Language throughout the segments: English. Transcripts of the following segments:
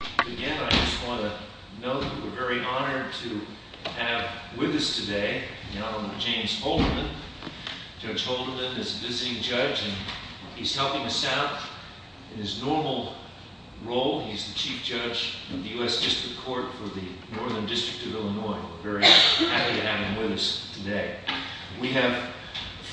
Again, I just want to note that we're very honored to have with us today the Honorable James Holderman. Judge Holderman is a visiting judge and he's helping us out in his normal role. He's the Chief Judge of the U.S. District Court for the Northern District of Illinois. We're very happy to have him with us today. We have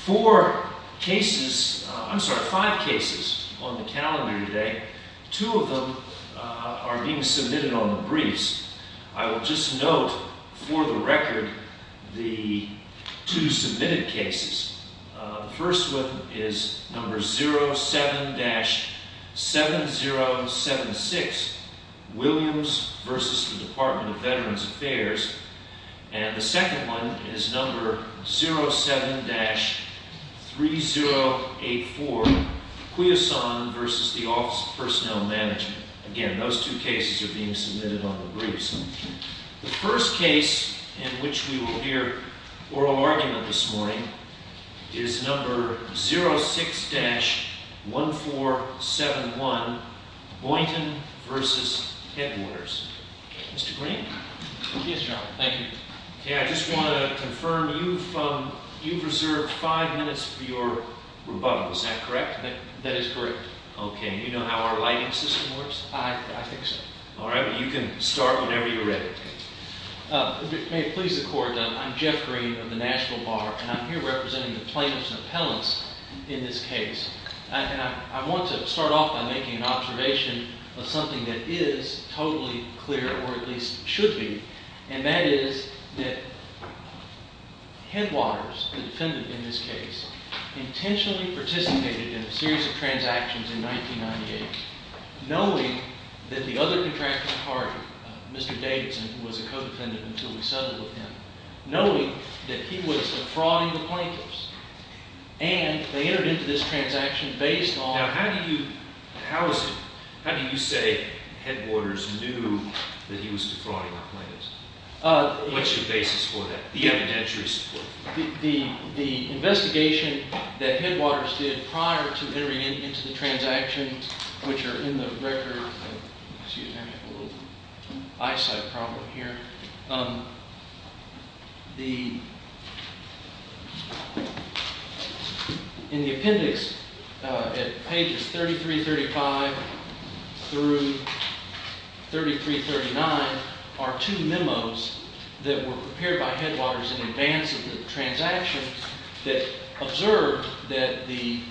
four cases, I'm sorry, five cases on the calendar today. Two of them are being submitted on the briefs. I will just note for the record the two submitted cases. The first one is number 07-7076, Williams v. Department of Veterans Affairs. And the second one is number 07-3084, Quiazon v. Office of Personnel Management. Again, those two cases are being submitted on the briefs. The first case in which we will hear oral argument this morning is number 06-1471, Boynton v. Headwaters. Mr. Green? Yes, Your Honor. Thank you. Okay, I just want to confirm you've reserved five minutes for your rebuttal, is that correct? That is correct. Okay, and you know how our lighting system works? I think so. All right, well you can start whenever you're ready. May it please the Court, I'm Jeff Green of the National Bar and I'm here representing the plaintiffs and appellants in this case. I want to start off by making an observation of something that is totally clear, or at least should be, and that is that Headwaters, the defendant in this case, intentionally participated in a series of transactions in 1998 knowing that the other contracted party, Mr. Davidson, who was a co-defendant until we settled with him, knowing that he was defrauding the plaintiffs, and they entered into this transaction based on Now how do you say Headwaters knew that he was defrauding the plaintiffs? What's your basis for that? The evidentiary support? The investigation that Headwaters did prior to entering into the transactions, which are in the record, excuse me, I have a little eyesight problem here. In the appendix at pages 3335 through 3339 are two memos that were prepared by Headwaters in advance of the transactions that observed that the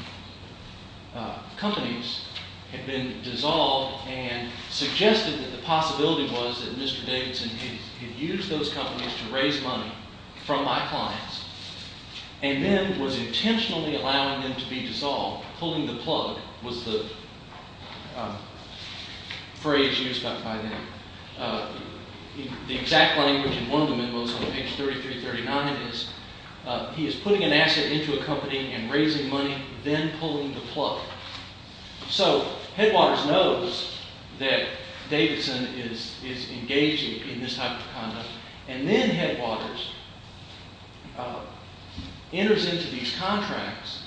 companies had been dissolved and suggested that the possibility was that Mr. Davidson had used those companies to raise money from my clients and then was intentionally allowing them to be dissolved. Pulling the plug was the phrase used by them. The exact language in one of the memos on page 3339 is he is putting an asset into a company and raising money, then pulling the plug. So Headwaters knows that Davidson is engaging in this type of conduct, and then Headwaters enters into these contracts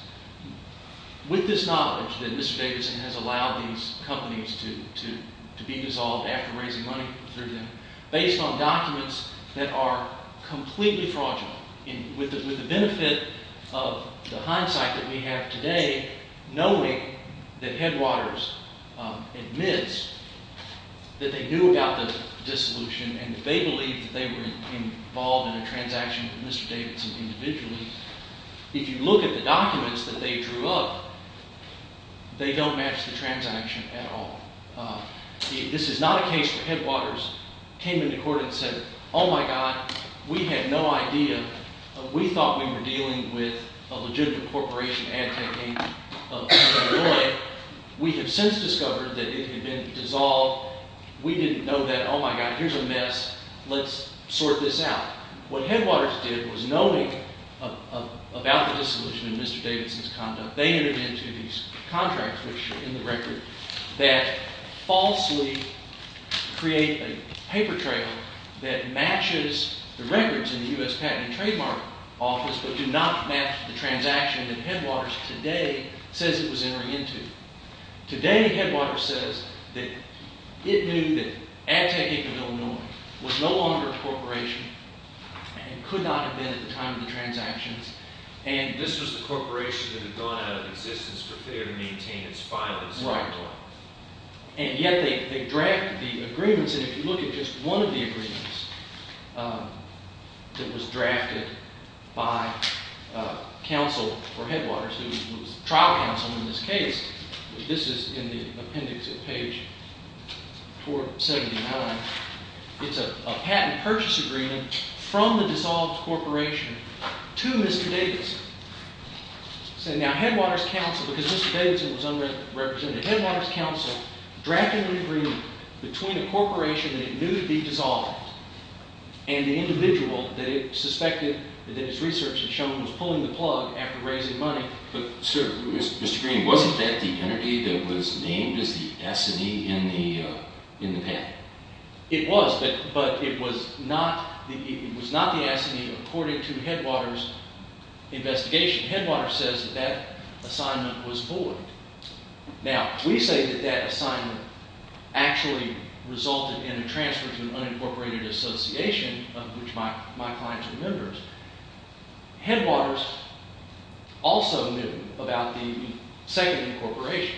with this knowledge that Mr. Davidson has allowed these companies to be dissolved after raising money through them based on documents that are completely fraudulent. With the benefit of the hindsight that we have today, knowing that Headwaters admits that they knew about the dissolution and they believe that they were involved in a transaction with Mr. Davidson individually, if you look at the documents that they drew up, they don't match the transaction at all. This is not a case where Headwaters came into court and said, oh my God, we had no idea. We thought we were dealing with a legitimate corporation, Antec, of Illinois. We have since discovered that it had been dissolved. We didn't know that. Oh my God, here's a mess. Let's sort this out. What Headwaters did was knowing about the dissolution and Mr. Davidson's conduct, they entered into these contracts which are in the record that falsely create a paper trail that matches the records in the U.S. Patent and Trademark Office but do not match the transaction that Headwaters today says it was entering into. Today, Headwaters says that it knew that Antec, of Illinois, was no longer a corporation and could not have been at the time of the transactions. And this was the corporation that had gone out of existence for failure to maintain its filings. Right. And yet they draft the agreements, and if you look at just one of the agreements that was drafted by counsel for Headwaters, who was trial counsel in this case, this is in the appendix at page 479. It's a patent purchase agreement from the dissolved corporation to Mr. Davidson. So now Headwaters counsel, because Mr. Davidson was unrepresented, Headwaters counsel drafted an agreement between a corporation that it knew to be dissolved and the individual that it suspected that its research had shown was pulling the plug after raising money. But sir, Mr. Green, wasn't that the entity that was named as the S&E in the patent? It was, but it was not the S&E according to Headwaters' investigation. Headwaters says that that assignment was void. Now, we say that that assignment actually resulted in a transfer to an unincorporated association of which my clients are members. Headwaters also knew about the second incorporation.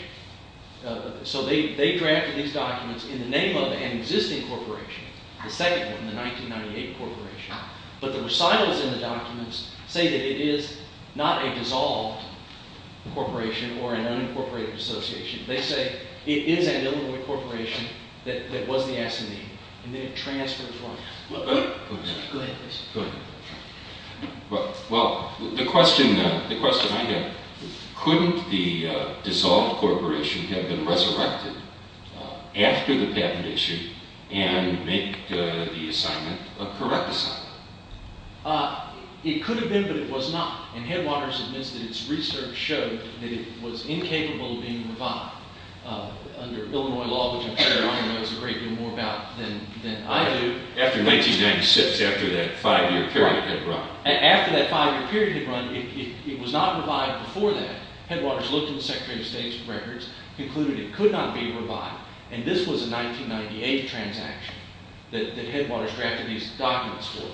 So they drafted these documents in the name of an existing corporation, the second one, the 1998 corporation. But the recitals in the documents say that it is not a dissolved corporation or an unincorporated association. They say it is an illegal corporation that was the S&E, and then it transfers money. Go ahead, please. Well, the question I have, couldn't the dissolved corporation have been resurrected after the patent issue and make the assignment a correct assignment? It could have been, but it was not. And Headwaters admits that its research showed that it was incapable of being revived. Under Illinois law, which I'm sure Ron knows a great deal more about than I do. After 1996, after that five-year period had run. After that five-year period had run, it was not revived before that. Headwaters looked at the Secretary of State's records, concluded it could not be revived, and this was a 1998 transaction that Headwaters drafted these documents for.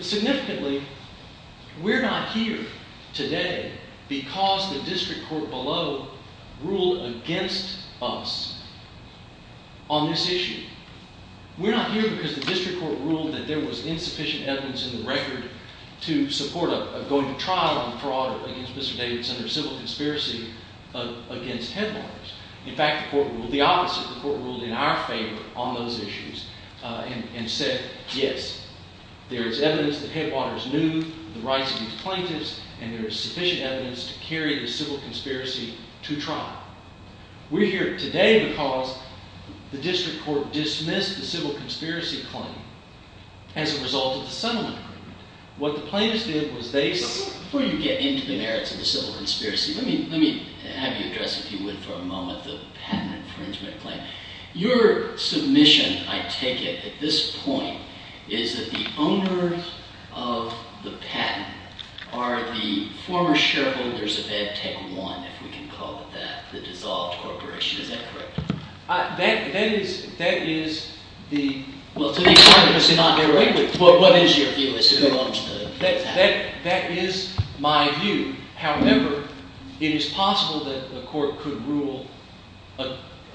Significantly, we're not here today because the district court below ruled against us on this issue. We're not here because the district court ruled that there was insufficient evidence in the record to support a going to trial on fraud against Mr. Davidson or civil conspiracy against Headwaters. In fact, the court ruled the opposite. The court ruled in our favor on those issues and said, yes, there is evidence that Headwaters knew the rights of these plaintiffs and there is sufficient evidence to carry the civil conspiracy to trial. We're here today because the district court dismissed the civil conspiracy claim as a result of the settlement agreement. What the plaintiffs did was they... Before you get into the merits of the civil conspiracy, let me have you address, if you would, for a moment, the patent infringement claim. Your submission, I take it, at this point, is that the owners of the patent are the former shareholders of EdTechOne, if we can call it that, the dissolved corporation. Is that correct? That is the... Well, to be quite honest, I'm not aware of it, but what is your view as to who owns the patent? That is my view. However, it is possible that the court could rule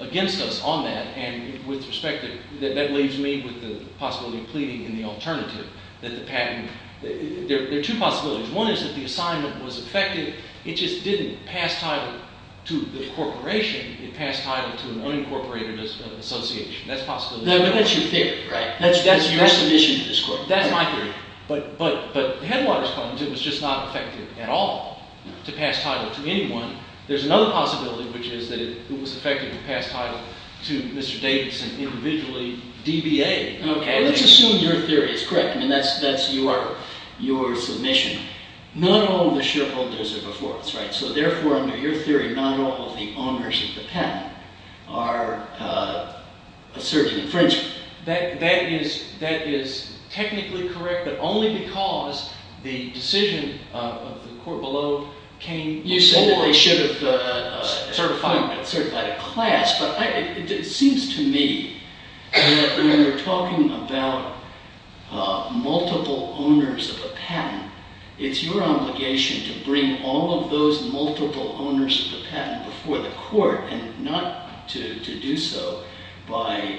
against us on that. And with respect, that leaves me with the possibility of pleading in the alternative that the patent... There are two possibilities. One is that the assignment was effective. It just didn't pass title to the corporation. It passed title to an unincorporated association. That's a possibility. That's your theory, right? That's your submission to this court. That's my theory. But Headwaters claims it was just not effective at all to pass title to anyone. There's another possibility, which is that it was effective to pass title to Mr. Davidson individually, DBA. Okay. Let's assume your theory is correct. I mean, that's your submission. Not all the shareholders are before us, right? So therefore, under your theory, not all of the owners of the patent are a certain infringement. That is technically correct, but only because the decision of the court below came before... You said that they should have certified a class, but it seems to me that when we're talking about multiple owners of a patent, it's your obligation to bring all of those multiple owners of the patent before the court and not to do so by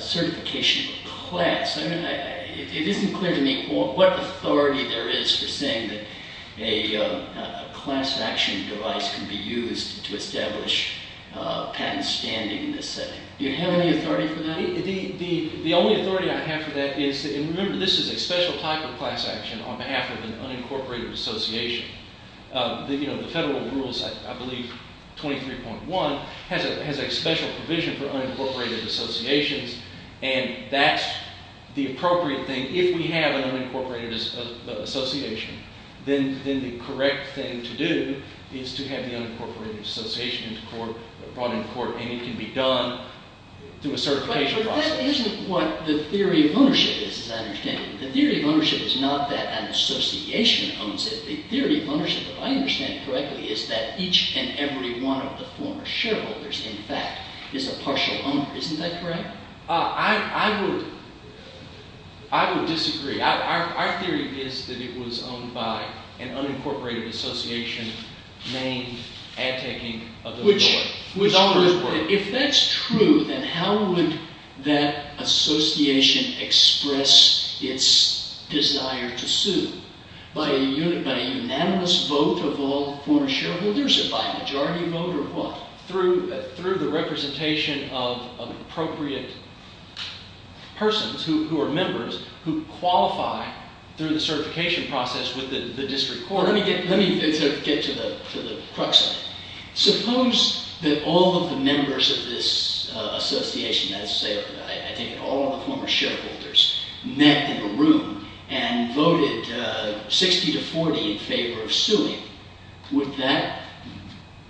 certification of a class. I mean, it isn't clear to me what authority there is for saying that a class action device can be used to establish patent standing in this setting. Do you have any authority for that? The only authority I have for that is – and remember, this is a special type of class action on behalf of an unincorporated association. The federal rules, I believe, 23.1, has a special provision for unincorporated associations, and that's the appropriate thing. If we have an unincorporated association, then the correct thing to do is to have the unincorporated association brought into court, and it can be done through a certification process. But that isn't what the theory of ownership is, as I understand it. The theory of ownership is not that an association owns it. The theory of ownership, if I understand it correctly, is that each and every one of the former shareholders, in fact, is a partial owner. Isn't that correct? I would disagree. Our theory is that it was owned by an unincorporated association named Ad Tech Inc. of Illinois. If that's true, then how would that association express its desire to sue? By a unanimous vote of all former shareholders? By a majority vote or what? Through the representation of appropriate persons who are members, who qualify through the certification process with the district court. Let me get to the crux of it. Suppose that all of the members of this association, that is to say, I take it all of the former shareholders, met in a room and voted 60 to 40 in favor of suing. Would that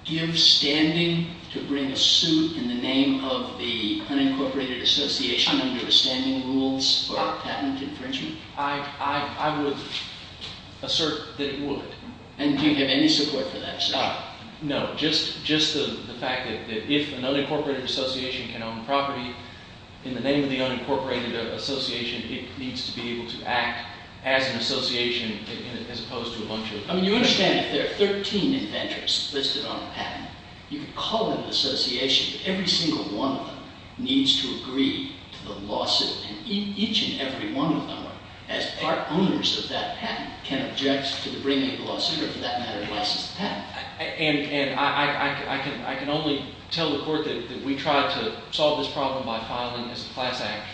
give standing to bring a suit in the name of the unincorporated association under the standing rules about patent infringement? I would assert that it would. And do you have any support for that? No, just the fact that if an unincorporated association can own property in the name of the unincorporated association, it needs to be able to act as an association as opposed to a bunch of... I mean, you understand if there are 13 inventors listed on a patent, you could call it an association, but every single one of them needs to agree to the lawsuit. And each and every one of them, as part owners of that patent, can object to the bringing of a lawsuit or, for that matter, license the patent. And I can only tell the court that we tried to solve this problem by filing as a class action,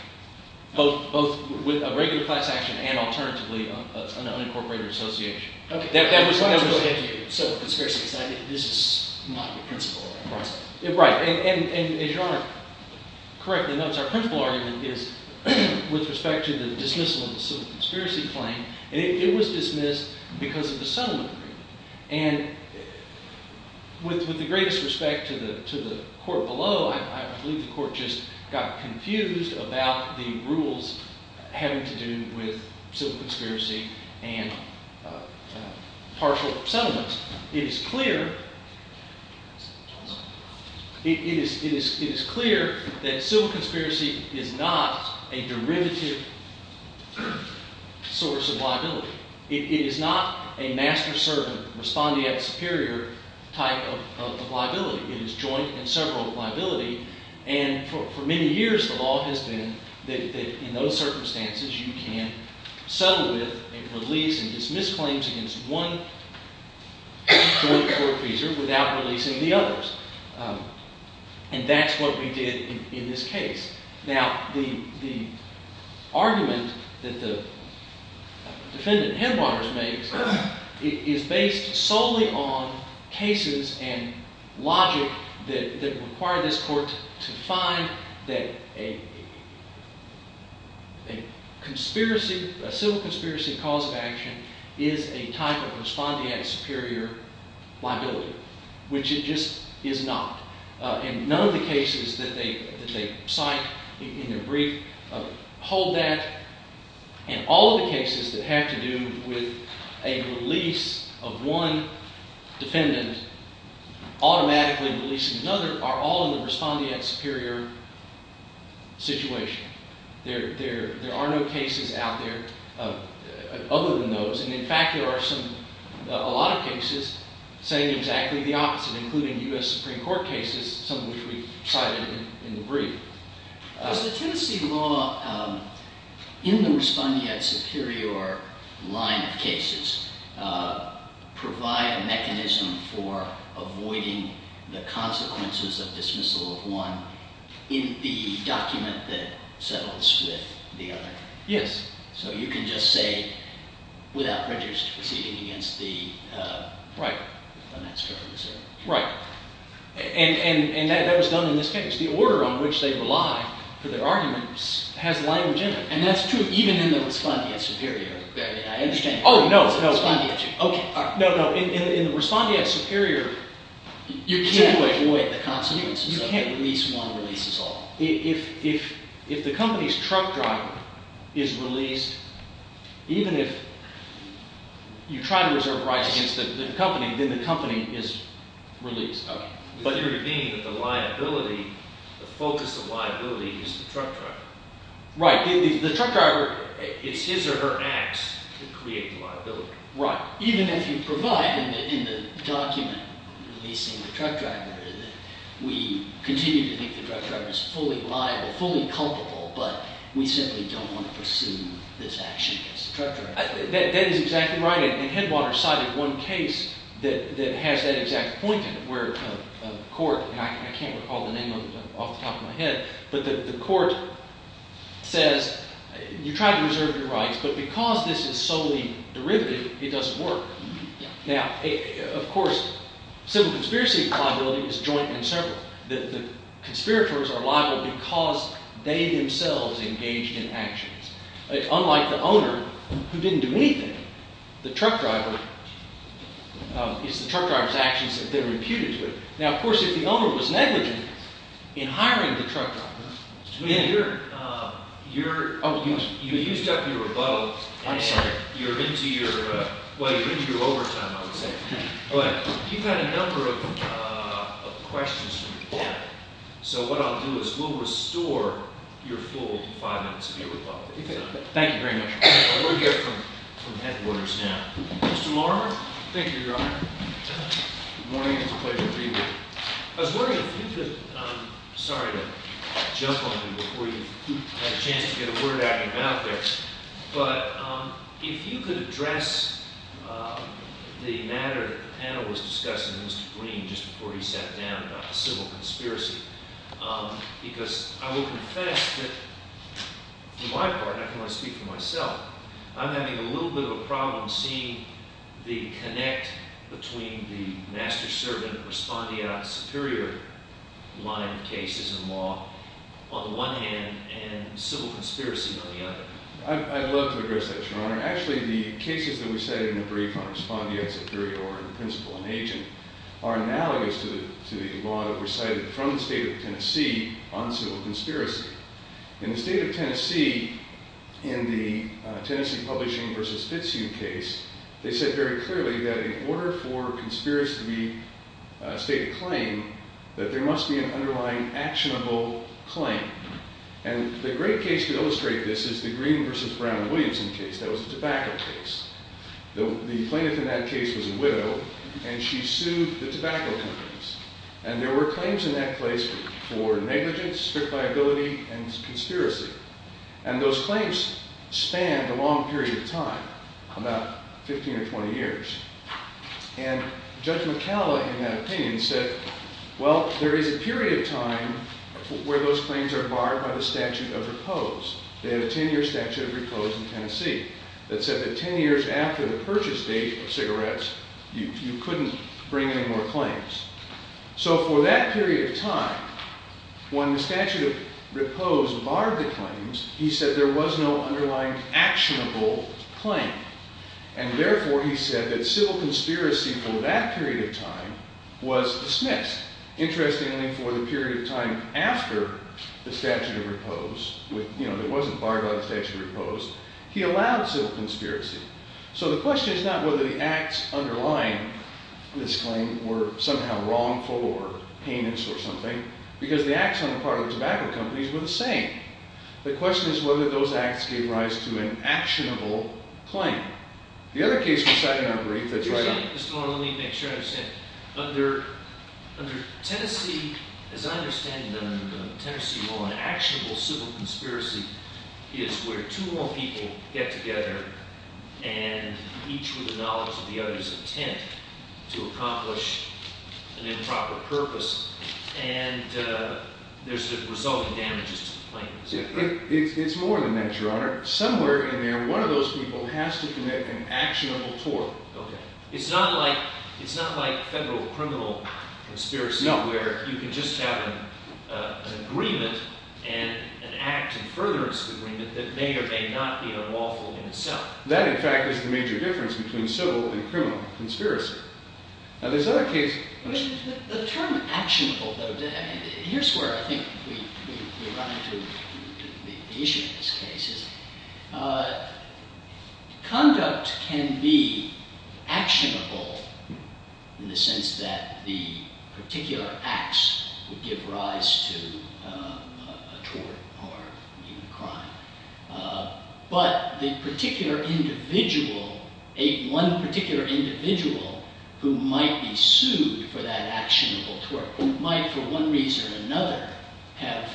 both with a regular class action and, alternatively, an unincorporated association. OK. So, conspiracy, this is not your principle. Right. And as Your Honor correctly notes, our principle argument is with respect to the dismissal of the civil conspiracy claim, and it was dismissed because of the settlement agreement. And with the greatest respect to the court below, I believe the court just got confused about the rules having to do with civil conspiracy and partial settlements. It is clear that civil conspiracy is not a derivative source of liability. It is not a master-servant, respondeat superior type of liability. It is joint and several liability. And for many years, the law has been that in those circumstances, you can settle with a release and dismiss claims against one joint court feature without releasing the others. And that's what we did in this case. Now, the argument that the defendant, Headwaters, makes is based solely on cases and logic that require this court to find that a civil conspiracy cause of action is a type of respondeat superior liability, which it just is not. And none of the cases that they cite in their brief hold that. And all of the cases that have to do with a release of one defendant automatically releasing another are all in the respondeat superior situation. There are no cases out there other than those. And in fact, there are a lot of cases saying exactly the opposite, including U.S. Supreme Court cases, some of which we cited in the brief. Does the Tennessee law, in the respondeat superior line of cases, provide a mechanism for avoiding the consequences of dismissal of one in the document that settles with the other? Yes. So you can just say, without register proceeding against the finance director. Right. And that was done in this case. The order on which they rely for their arguments has language in it. And that's true even in the respondeat superior. I understand. Oh, no, no. OK. No, no. In the respondeat superior, you can't avoid the consequences of it. You can't release one releases all. If the company's truck driver is released, even if you try to reserve rights against the company, then the company is released. OK. But you're saying that the liability, the focus of liability is the truck driver. Right. The truck driver, it's his or her acts that create the liability. Right. Even if you provide in the document releasing the truck driver that we continue to think the truck driver is fully liable, fully culpable, but we simply don't want to pursue this action against the truck driver. That is exactly right. And Headwater cited one case that has that exact point in it where a court, and I can't recall the name off the top of my head, but the court says you try to reserve your rights, but because this is solely derivative, it doesn't work. Now, of course, civil conspiracy liability is joint and separate. The conspirators are liable because they themselves engaged in actions. It's unlike the owner who didn't do anything. The truck driver, it's the truck driver's actions that they're reputed to have. Now, of course, if the owner was negligent in hiring the truck driver. You used up your rebuttal. I'm sorry. You're into your overtime, I would say. You've had a number of questions from the panel. So what I'll do is we'll restore your full five minutes of your rebuttal. Thank you very much. We'll get from Headwater's now. Mr. Marmor. Thank you, Your Honor. Good morning. It's a pleasure to be here. I was wondering if you could, sorry to jump on you before you had a chance to get a word out of your mouth there, but if you could address the matter that the panel was discussing with Mr. Green just before he sat down about the civil conspiracy. Because I will confess that, for my part, and I don't want to speak for myself, I'm having a little bit of a problem seeing the connect between the master-servant respondeat superior line of cases in law, on the one hand, and civil conspiracy on the other. I'd love to address that, Your Honor. Actually, the cases that were cited in the brief on respondeat superior or in principle an agent are analogous to the law that were cited from the state of Tennessee on civil conspiracy. In the state of Tennessee, in the Tennessee Publishing v. Fitzhugh case, they said very clearly that in order for conspiracy to be a state of claim, that there must be an underlying actionable claim. And the great case to illustrate this is the Green v. Brown-Williamson case. That was a tobacco case. The plaintiff in that case was a widow, and she sued the tobacco companies. And there were claims in that case for negligence, strict liability, and conspiracy. And those claims spanned a long period of time, about 15 or 20 years. And Judge McCalla, in that opinion, said, well, there is a period of time where those claims are barred by the statute of repose. They had a 10-year statute of repose in Tennessee that said that 10 years after the purchase date of cigarettes, you couldn't bring any more claims. So for that period of time, when the statute of repose barred the claims, he said there was no underlying actionable claim. And therefore, he said that civil conspiracy for that period of time was dismissed. Interestingly, for the period of time after the statute of repose, it wasn't barred by the statute of repose, he allowed civil conspiracy. So the question is not whether the acts underlying this claim were somehow wrongful or heinous or something, because the acts on the part of the tobacco companies were the same. The question is whether those acts gave rise to an actionable claim. The other case we sat in on, brief, that's right on. Let me make sure I understand. Under Tennessee, as I understand the Tennessee law, an actionable civil conspiracy is where two or more people get together, and each with the knowledge of the other's intent to accomplish an improper purpose, and there's the resulting damages to the claim. It's more than that, Your Honor. Somewhere in there, one of those people has to commit an actionable tort. Okay. It's not like federal criminal conspiracy, where you can just have an agreement and an act in furtherance agreement that may or may not be unlawful in itself. That, in fact, is the major difference between civil and criminal conspiracy. Now, this other case... The term actionable, though, here's where I think we run into the issue in this case. Conduct can be actionable in the sense that the particular acts would give rise to a tort or even a crime. But the particular individual, one particular individual who might be sued for that actionable tort might, for one reason or another, have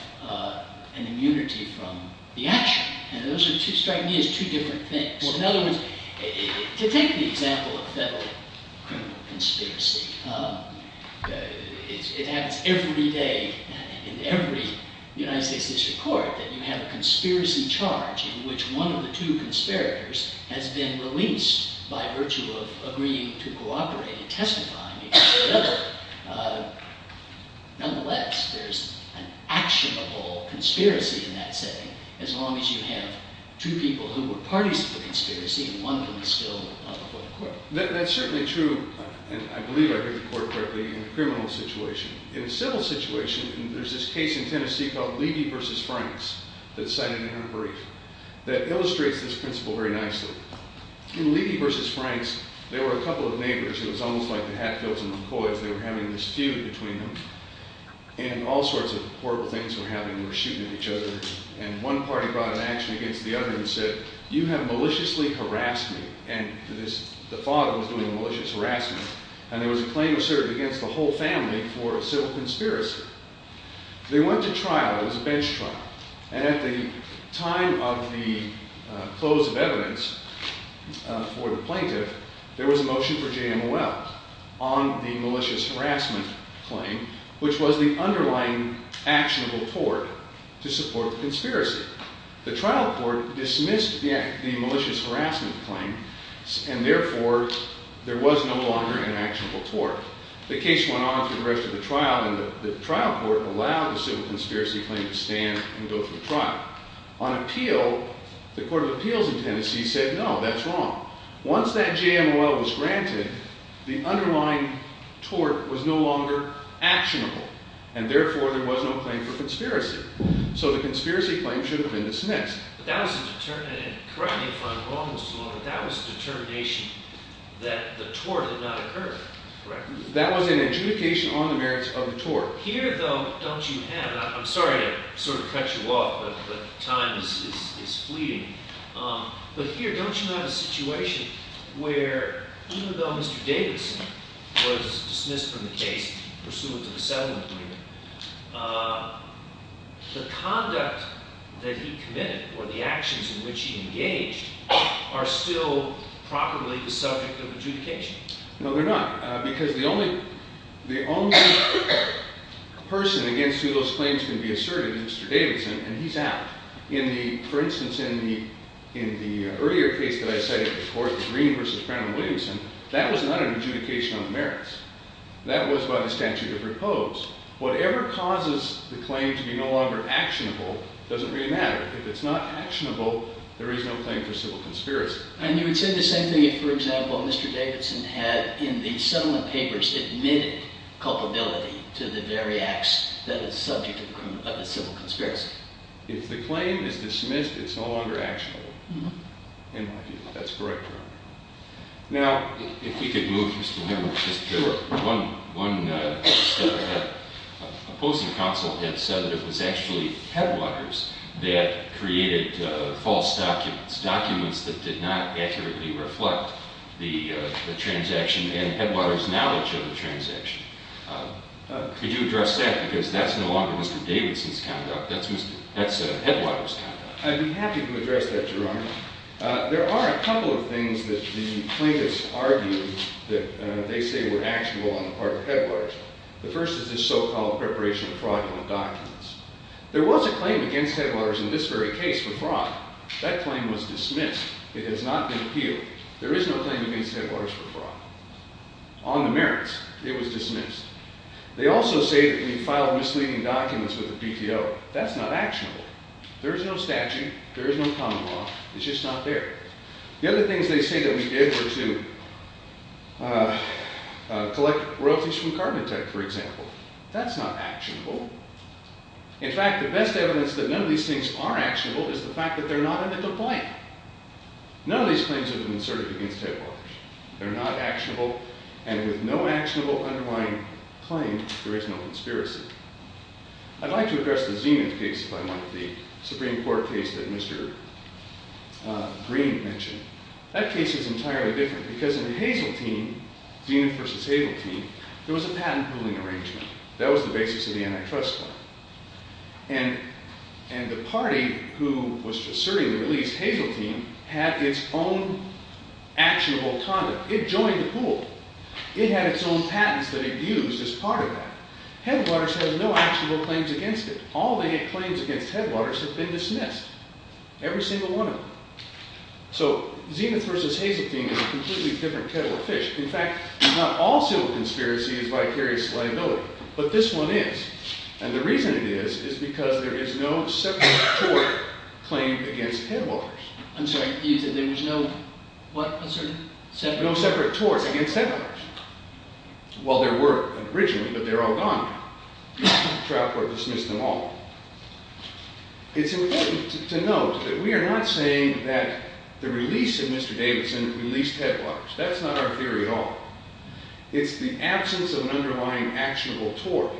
an immunity from the action. And those strike me as two different things. In other words, to take the example of federal criminal conspiracy, it happens every day in every United States District Court that you have a conspiracy charge in which one of the two conspirators has been released by virtue of agreeing to cooperate and testifying against the other. Nonetheless, there's an actionable conspiracy in that setting as long as you have two people who were parties to the conspiracy and one of them is still before the court. That's certainly true, and I believe I heard the court correctly, in a criminal situation. In a civil situation, there's this case in Tennessee called Levy v. Franks that's cited in our brief that illustrates this principle very nicely. In Levy v. Franks, there were a couple of neighbors. It was almost like the Hatfields and the McCoys. They were having this feud between them. And all sorts of horrible things were happening. They were shooting at each other. And one party brought an action against the other and said, you have maliciously harassed me. And the father was doing malicious harassment. And there was a claim asserted against the whole family for a civil conspiracy. They went to trial. It was a bench trial. And at the time of the close of evidence for the plaintiff, there was a motion for JMOL on the malicious harassment claim, which was the underlying actionable court to support the conspiracy. The trial court dismissed the malicious harassment claim, and therefore there was no longer an actionable tort. The case went on through the rest of the trial, and the trial court allowed the civil conspiracy claim to stand and go through trial. On appeal, the Court of Appeals in Tennessee said, no, that's wrong. Once that JMOL was granted, the underlying tort was no longer actionable, and therefore there was no claim for conspiracy. So the conspiracy claim should have been dismissed. And correct me if I'm wrong, Mr. Long, but that was a determination that the tort had not occurred, correct? That was an adjudication on the merits of the tort. Here, though, don't you have? I'm sorry to sort of cut you off, but time is fleeting. But here, don't you have a situation where, even though Mr. Davidson was dismissed from the case pursuant to the settlement claim, the conduct that he committed, or the actions in which he engaged, are still properly the subject of adjudication? No, they're not. Because the only person against who those claims can be asserted is Mr. Davidson, and he's out. For instance, in the earlier case that I cited before, the Green v. Brown v. Williamson, that was not an adjudication on the merits. That was by the statute of repose. Whatever causes the claim to be no longer actionable doesn't really matter. If it's not actionable, there is no claim for civil conspiracy. And you would say the same thing if, for example, Mr. Davidson had, in the settlement papers, admitted culpability to the very acts that is subject of a civil conspiracy. If the claim is dismissed, it's no longer actionable. In my view, that's correct, Your Honor. Now, if we could move just a little bit. Sure. One opposing counsel had said that it was actually Headwaters that created false documents, documents that did not accurately reflect the transaction and Headwaters' knowledge of the transaction. Could you address that? Because that's no longer Mr. Davidson's conduct. That's Headwaters' conduct. I'd be happy to address that, Your Honor. There are a couple of things that the plaintiffs argue that they say were actionable on the part of Headwaters. The first is this so-called preparation of fraudulent documents. There was a claim against Headwaters in this very case for fraud. That claim was dismissed. It has not been appealed. There is no claim against Headwaters for fraud. On the merits, it was dismissed. They also say that we filed misleading documents with the PTO. That's not actionable. There is no statute. There is no common law. It's just not there. The other things they say that we did were to collect royalties from Carbon Tech, for example. That's not actionable. In fact, the best evidence that none of these things are actionable is the fact that they're not in the complaint. None of these claims have been asserted against Headwaters. They're not actionable. And with no actionable underlying claim, there is no conspiracy. I'd like to address the Zenith case if I might, the Supreme Court case that Mr. Green mentioned. That case is entirely different because in Hazeltine, Zenith versus Hazeltine, there was a patent pooling arrangement. That was the basis of the antitrust law. And the party who was asserting the release, Hazeltine, had its own actionable conduct. It joined the pool. It had its own patents that it used as part of that. Headwaters has no actionable claims against it. All the claims against Headwaters have been dismissed, every single one of them. So Zenith versus Hazeltine is a completely different kettle of fish. In fact, not all civil conspiracy is vicarious liability, but this one is. And the reason it is is because there is no separate tort claim against Headwaters. I'm sorry, you said there was no what? No separate torts against Headwaters. Well, there were originally, but they're all gone now. The trial court dismissed them all. It's important to note that we are not saying that the release of Mr. Davidson released Headwaters. That's not our theory at all. It's the absence of an underlying actionable tort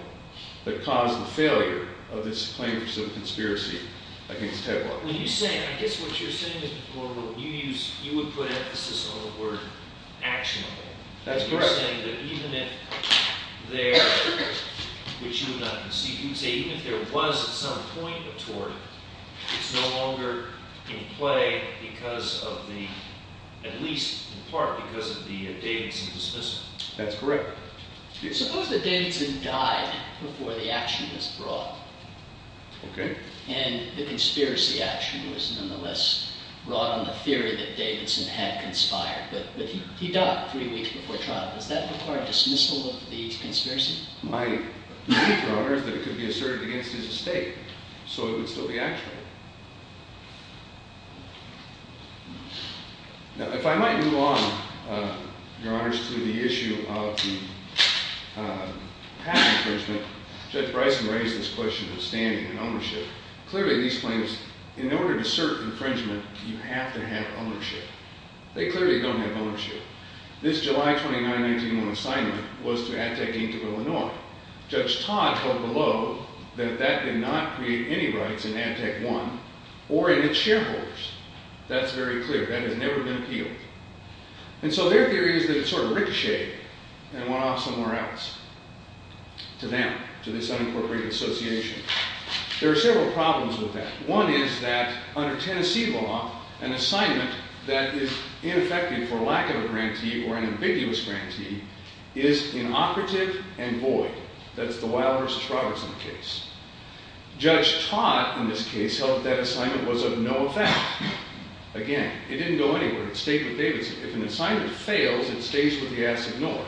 that caused the failure of this claims of conspiracy against Headwaters. I guess what you're saying is you would put emphasis on the word actionable. That's correct. You're saying that even if there was some point of tort, it's no longer in play because of the, at least in part, because of the Davidson dismissal. That's correct. Suppose that Davidson died before the action was brought. Okay. And the conspiracy action was nonetheless brought on the theory that Davidson had conspired, but he died three weeks before trial. Does that require a dismissal of the conspiracy? My belief, Your Honor, is that it could be asserted against his estate, so it would still be actionable. Now, if I might move on, Your Honors, to the issue of the patent infringement, Judge Bryson raised this question of standing and ownership. Clearly, these claims, in order to assert infringement, you have to have ownership. They clearly don't have ownership. This July 29, 1901 assignment was to Ad Tech, Inc. of Illinois. Judge Todd wrote below that that did not create any rights in Ad Tech I or in its shareholders. That's very clear. That has never been appealed. And so their theory is that it sort of ricocheted and went off somewhere else to them, to this unincorporated association. There are several problems with that. One is that, under Tennessee law, an assignment that is ineffective for lack of a grantee or an ambiguous grantee is inoperative and void. That's the Weill v. Robertson case. Judge Todd, in this case, held that assignment was of no effect. Again, it didn't go anywhere. It stayed with Davidson. If an assignment fails, it stays with the Asset North.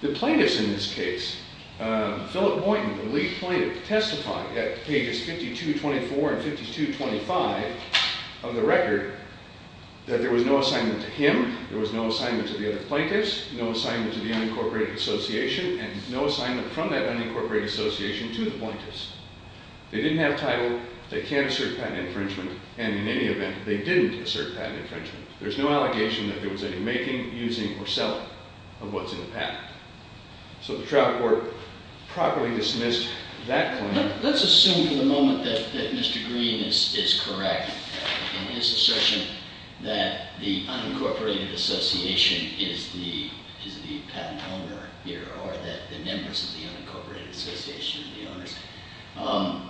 The plaintiffs in this case, Philip Boynton, the lead plaintiff, testified at pages 52-24 and 52-25 of the record that there was no assignment to him, there was no assignment to the other plaintiffs, no assignment to the unincorporated association, and no assignment from that unincorporated association to the plaintiffs. They didn't have title. They can't assert patent infringement. And in any event, they didn't assert patent infringement. There's no allegation that there was any making, using, or selling of what's in the patent. So the trial court properly dismissed that claim. Let's assume for the moment that Mr. Green is correct in his assertion that the unincorporated association is the patent owner here or that the members of the unincorporated association are the owners.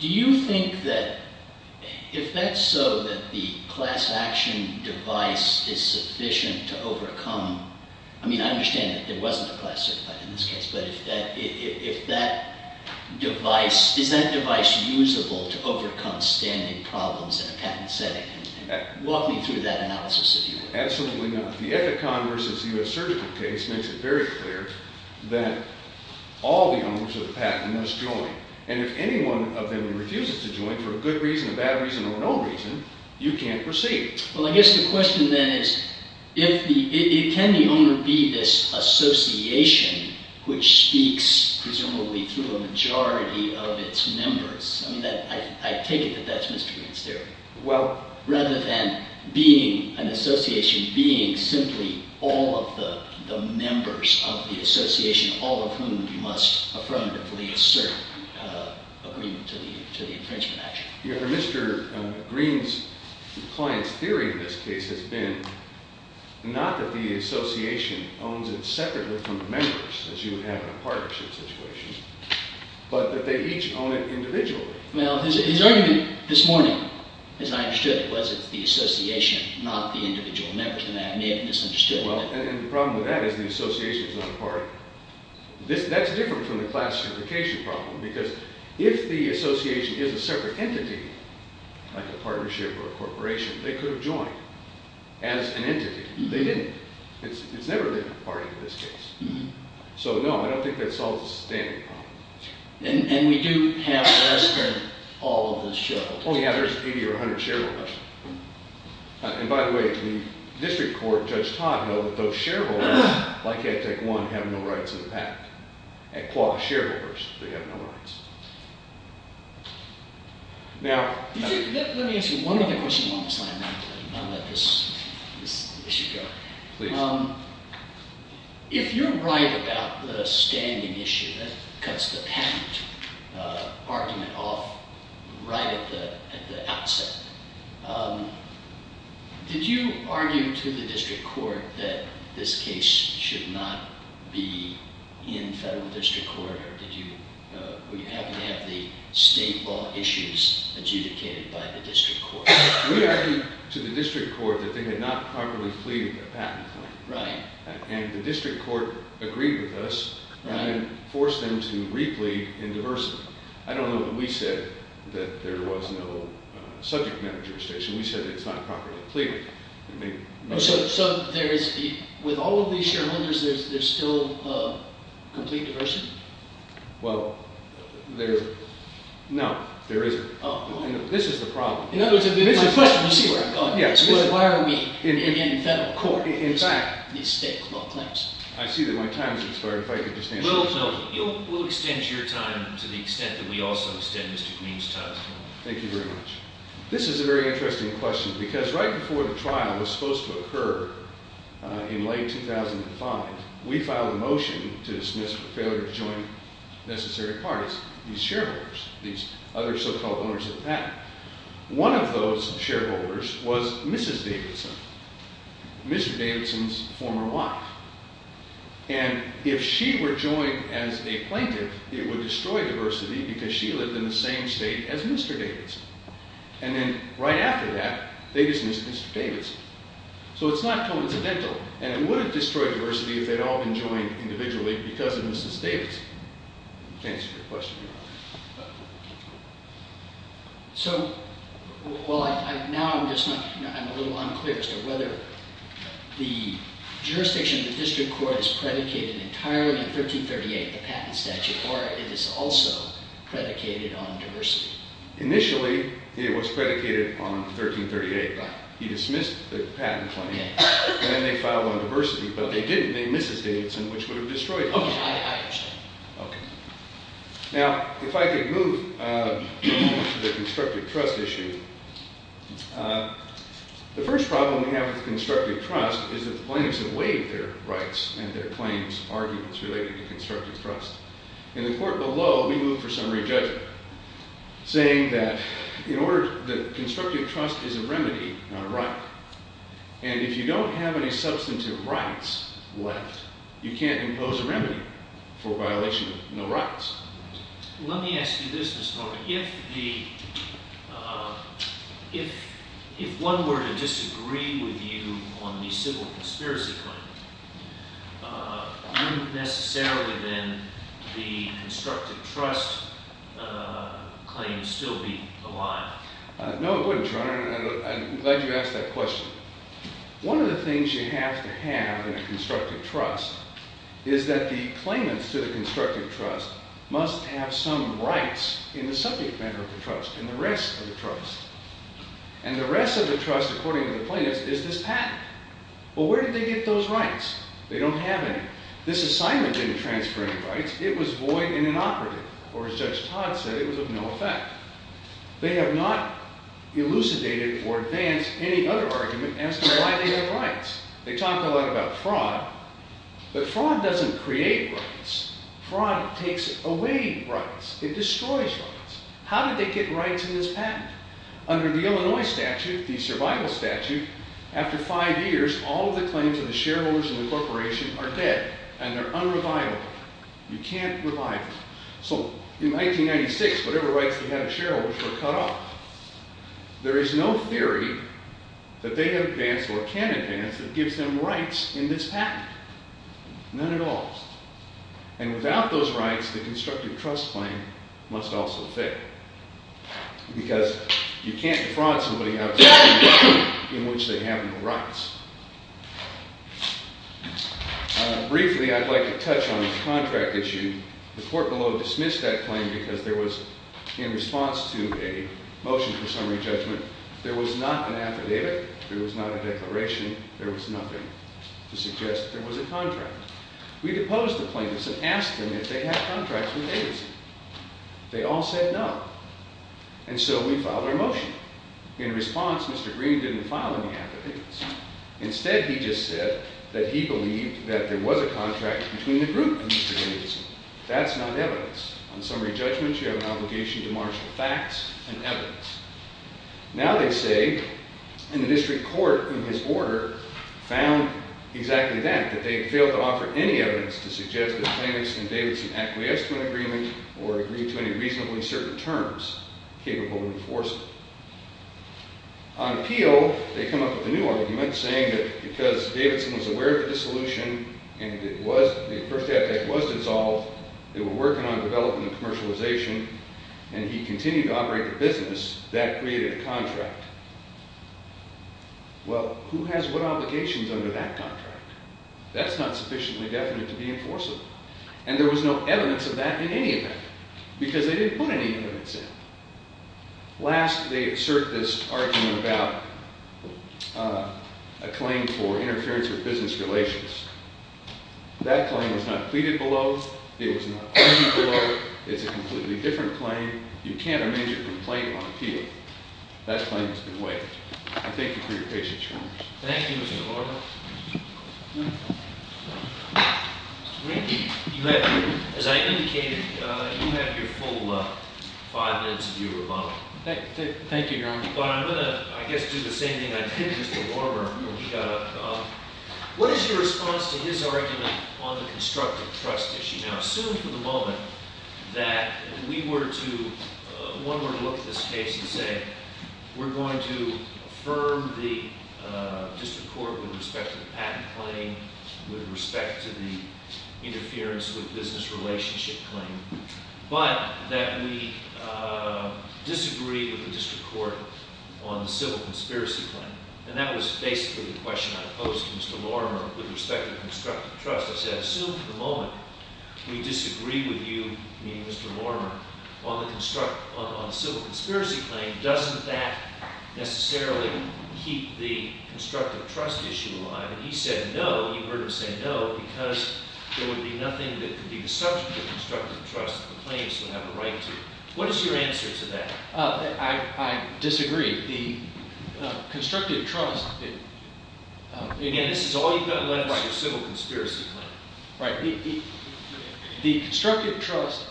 Do you think that if that's so, that the class action device is sufficient to overcome? I mean, I understand that there wasn't a class certified in this case. But if that device, is that device usable to overcome standing problems in a patent setting? Walk me through that analysis, if you will. Absolutely not. The Ethicon versus U.S. Surgical case makes it very clear that all the owners of the patent must join. And if anyone of them refuses to join for a good reason, a bad reason, or no reason, you can't proceed. Well, I guess the question then is, can the owner be this association which speaks presumably through a majority of its members? I mean, I take it that that's Mr. Green's theory. Rather than being an association being simply all of the members of the association, all of whom you must affirmatively assert agreement to the infringement action. Yeah, but Mr. Green's client's theory in this case has been not that the association owns it separately from the members, as you would have in a partnership situation, but that they each own it individually. Well, his argument this morning, as I understood it, was it the association, not the individual members. And I may have misunderstood it. Well, and the problem with that is the association is not a party. That's different from the class unification problem, because if the association is a separate entity, like a partnership or a corporation, they could have joined as an entity. They didn't. It's never been a party in this case. So, no, I don't think that solves the standing problem. And we do have less than all of the shareholders. Oh, yeah, there's 80 or 100 shareholders. And, by the way, the district court, Judge Todd, held that those shareholders, like Act Act 1, have no rights in the pact. That clause, shareholders, they have no rights. Now, Let me ask you one other question while I'm not letting this issue go. Please. If you're right about the standing issue that cuts the patent argument off right at the outset, did you argue to the district court that this case should not be in federal district court? Or were you happy to have the state law issues adjudicated by the district court? We argued to the district court that they had not properly pleaded a patent claim. Right. And the district court agreed with us and forced them to re-plead in diversity. I don't know that we said that there was no subject matter jurisdiction. We said that it's not properly pleaded. So, with all of these shareholders, there's still complete diversity? Well, no, there isn't. This is the problem. You see where I'm going with this. Why are we in federal court? In fact, It's state law claims. I see that my time has expired if I can just answer your question. We'll extend your time to the extent that we also extend Mr. Queen's time. Thank you very much. This is a very interesting question because right before the trial was supposed to occur in late 2005, we filed a motion to dismiss the failure to join necessary parties. These shareholders, these other so-called owners of the patent. One of those shareholders was Mrs. Davidson. Mr. Davidson's former wife. And if she were joined as a plaintiff, it would destroy diversity because she lived in the same state as Mr. Davidson. And then right after that, they dismissed Mr. Davidson. So it's not coincidental. And it wouldn't destroy diversity if they'd all been joined individually because of Mrs. Davidson. To answer your question. So, well, now I'm just not, you know, I'm a little unclear as to whether the jurisdiction of the district court is predicated entirely on 1338, the patent statute, or it is also predicated on diversity. Initially, it was predicated on 1338. He dismissed the patent claim. Then they filed on diversity, but they didn't. They dismissed Mrs. Davidson, which would have destroyed it. Okay, I understand. Okay. Now, if I could move to the constructive trust issue. The first problem we have with constructive trust is that the plaintiffs have waived their rights and their claims, arguments related to constructive trust. In the court below, we move for summary judgment, saying that in order, that constructive trust is a remedy, not a right. And if you don't have any substantive rights left, you can't impose a remedy for violation of no rights. Let me ask you this, Mr. Horvath. If one were to disagree with you on the civil conspiracy claim, wouldn't necessarily then the constructive trust claim still be alive? No, it wouldn't, Your Honor. I'm glad you asked that question. One of the things you have to have in a constructive trust is that the claimants to the constructive trust must have some rights in the subject matter of the trust, in the rest of the trust. And the rest of the trust, according to the plaintiffs, is this patent. Well, where did they get those rights? They don't have any. This assignment didn't transfer any rights. It was void and inoperative, or as Judge Todd said, it was of no effect. They have not elucidated or advanced any other argument as to why they have rights. They talk a lot about fraud, but fraud doesn't create rights. Fraud takes away rights. It destroys rights. How did they get rights in this patent? Under the Illinois statute, the survival statute, after five years, all of the claims of the shareholders of the corporation are dead, and they're unreviable. You can't revive them. So in 1996, whatever rights they had as shareholders were cut off. There is no theory that they have advanced or can advance that gives them rights in this patent, none at all. And without those rights, the constructive trust claim must also fail because you can't defraud somebody out of a patent in which they have no rights. Briefly, I'd like to touch on this contract issue. The court below dismissed that claim because there was, in response to a motion for summary judgment, there was not an affidavit. There was not a declaration. There was nothing to suggest there was a contract. We deposed the plaintiffs and asked them if they had contracts with Adozy. They all said no. And so we filed our motion. In response, Mr. Green didn't file any affidavits. Instead, he just said that he believed that there was a contract between the group and Mr. Davidson. That's not evidence. On summary judgments, you have an obligation to marshal facts and evidence. Now they say, and the district court, in his order, found exactly that, that they failed to offer any evidence to suggest that the plaintiffs and Davidson acquiesced to an agreement or agreed to any reasonably certain terms capable of enforcing it. On appeal, they come up with a new argument saying that because Davidson was aware of the dissolution and it was, the first affidavit was dissolved, they were working on developing the commercialization, and he continued to operate the business, that created a contract. Well, who has what obligations under that contract? That's not sufficiently definite to be enforceable. And there was no evidence of that in any event because they didn't put any evidence in. Last, they assert this argument about a claim for interference with business relations. That claim was not pleaded below. It was not argued below. It's a completely different claim. You can't arrange a complaint on appeal. That claim has been waived. I thank you for your patience, Your Honor. Thank you, Mr. Lorimer. You have, as I indicated, you have your full five minutes of your rebuttal. Thank you, Your Honor. But I'm going to, I guess, do the same thing I did to Mr. Lorimer when we got up. What is your response to his argument on the constructive trust issue? Now, assume for the moment that we were to, one were to look at this case and say, we're going to affirm the district court with respect to the patent claim, with respect to the interference with business relationship claim, but that we disagree with the district court on the civil conspiracy claim. And that was basically the question I posed to Mr. Lorimer with respect to constructive trust. I said, assume for the moment we disagree with you, meaning Mr. Lorimer, on the civil conspiracy claim. Doesn't that necessarily keep the constructive trust issue alive? And he said no. You heard him say no because there would be nothing that could be the subject of constructive trust that the plaintiffs would have a right to. What is your answer to that? I disagree. Again, this is all you've got to learn about your civil conspiracy claim. Right. The constructive trust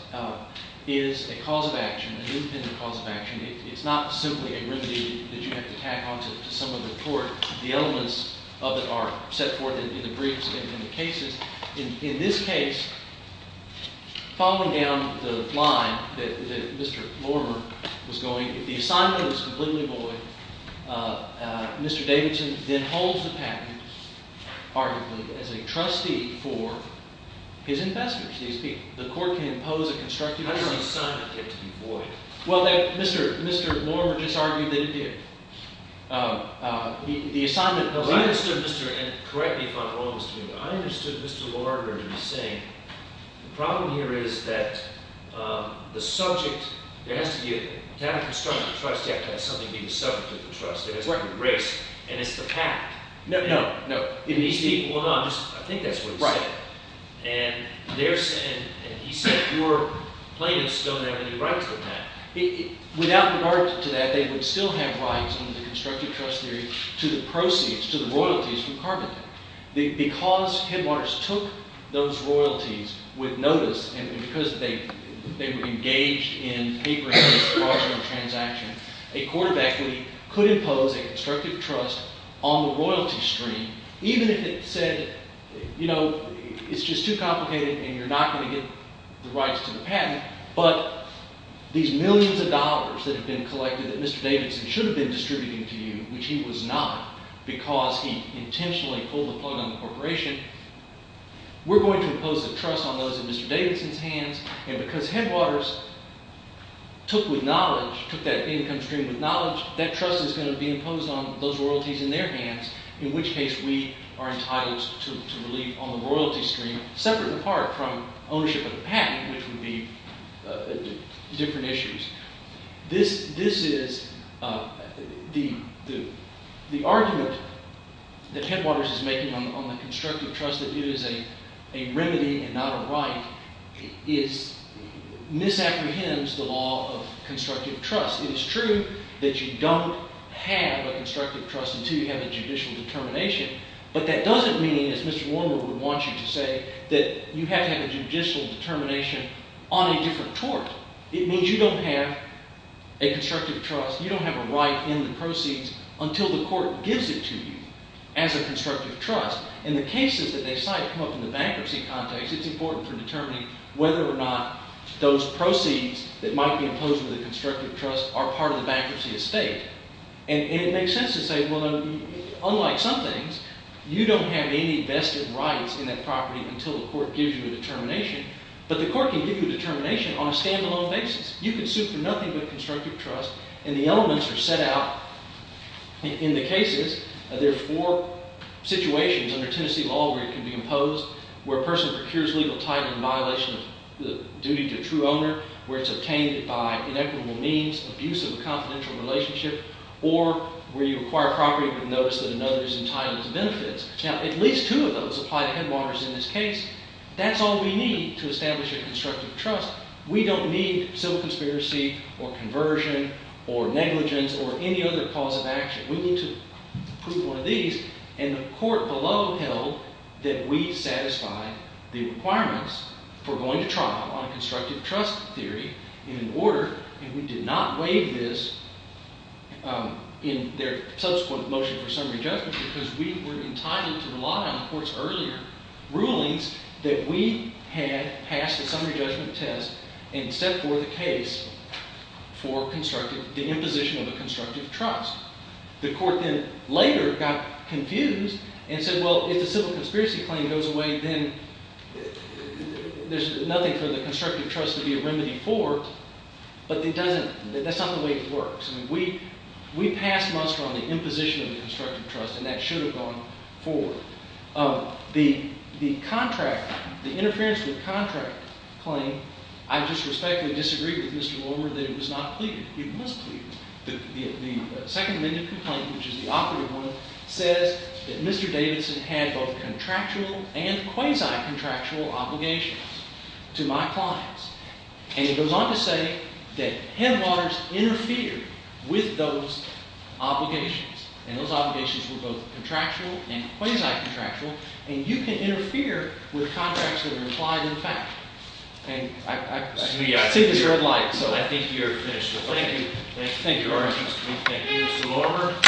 is a cause of action, an independent cause of action. It's not simply a remedy that you have to tack on to some of the court. The elements of it are set forth in the briefs and in the cases. In this case, following down the line that Mr. Lorimer was going, if the assignment is completely void, Mr. Davidson then holds the patent, arguably, as a trustee for his investors, these people. The court can impose a constructive trust. How does the assignment get to be void? Well, Mr. Lorimer just argued that it did. The assignment of the right. Correct me if I'm wrong, Mr. Newman. I understood Mr. Lorimer to be saying, the problem here is that the subject, to have a constructive trust, you have to have something be the subject of the trust. It has to be the race, and it's the patent. No, no. I think that's what he said. Right. And he said your plaintiffs don't have any right to the patent. Without regard to that, they would still have rights under the constructive trust theory to the proceeds, to the royalties from carpeting. Because Headwaters took those royalties with notice, and because they were engaged in papering the fraudulent transaction, a court of equity could impose a constructive trust on the royalty stream, even if it said, you know, it's just too complicated, and you're not going to get the rights to the patent, but these millions of dollars that have been collected that Mr. Davidson should have been distributing to you, which he was not because he intentionally pulled the plug on the corporation, we're going to impose a trust on those in Mr. Davidson's hands, and because Headwaters took with knowledge, took that income stream with knowledge, that trust is going to be imposed on those royalties in their hands, in which case we are entitled to relief on the royalty stream, separate and apart from ownership of the patent, which would be different issues. This is, the argument that Headwaters is making on the constructive trust that it is a remedy and not a right, misapprehends the law of constructive trust. It is true that you don't have a constructive trust until you have a judicial determination, but that doesn't mean, as Mr. Warner would want you to say, that you have to have a judicial determination on a different tort. It means you don't have a constructive trust, you don't have a right in the proceeds until the court gives it to you as a constructive trust. And the cases that they cite come up in the bankruptcy context, it's important for determining whether or not those proceeds that might be imposed with a constructive trust are part of the bankruptcy estate. And it makes sense to say, well, unlike some things, until the court gives you a determination, but the court can give you a determination on a stand-alone basis. You can sue for nothing but constructive trust and the elements are set out in the cases. There are four situations under Tennessee law where it can be imposed, where a person procures legal title in violation of the duty to a true owner, where it's obtained by inequitable means, abuse of a confidential relationship, or where you acquire property but notice that another is entitled to benefits. Now, at least two of those apply to Headwaters in this case. That's all we need to establish a constructive trust. We don't need civil conspiracy or conversion or negligence or any other cause of action. We need to prove one of these and the court below held that we satisfy the requirements for going to trial on a constructive trust theory in order, and we did not waive this in their subsequent motion for summary judgment because we were entitled to rely on the court's earlier rulings that we had passed the summary judgment test and set forth a case for the imposition of a constructive trust. The court then later got confused and said, well, if the civil conspiracy claim goes away then there's nothing for the constructive trust to be a remedy for but that's not the way it works. We passed muster on the imposition of the constructive trust and that should have gone forward. The interference with contract claim, I just respectfully disagree with Mr. Lord that it was not pleaded. It was pleaded. The second amendment complaint, which is the operative one, says that Mr. Davidson had both contractual and quasi-contractual obligations to my clients and it goes on to say that Headwaters interfered with those obligations and those obligations were both contractual and quasi-contractual and you can interfere with contracts that are implied in fact. I see the red light, so I think you're finished. Thank you.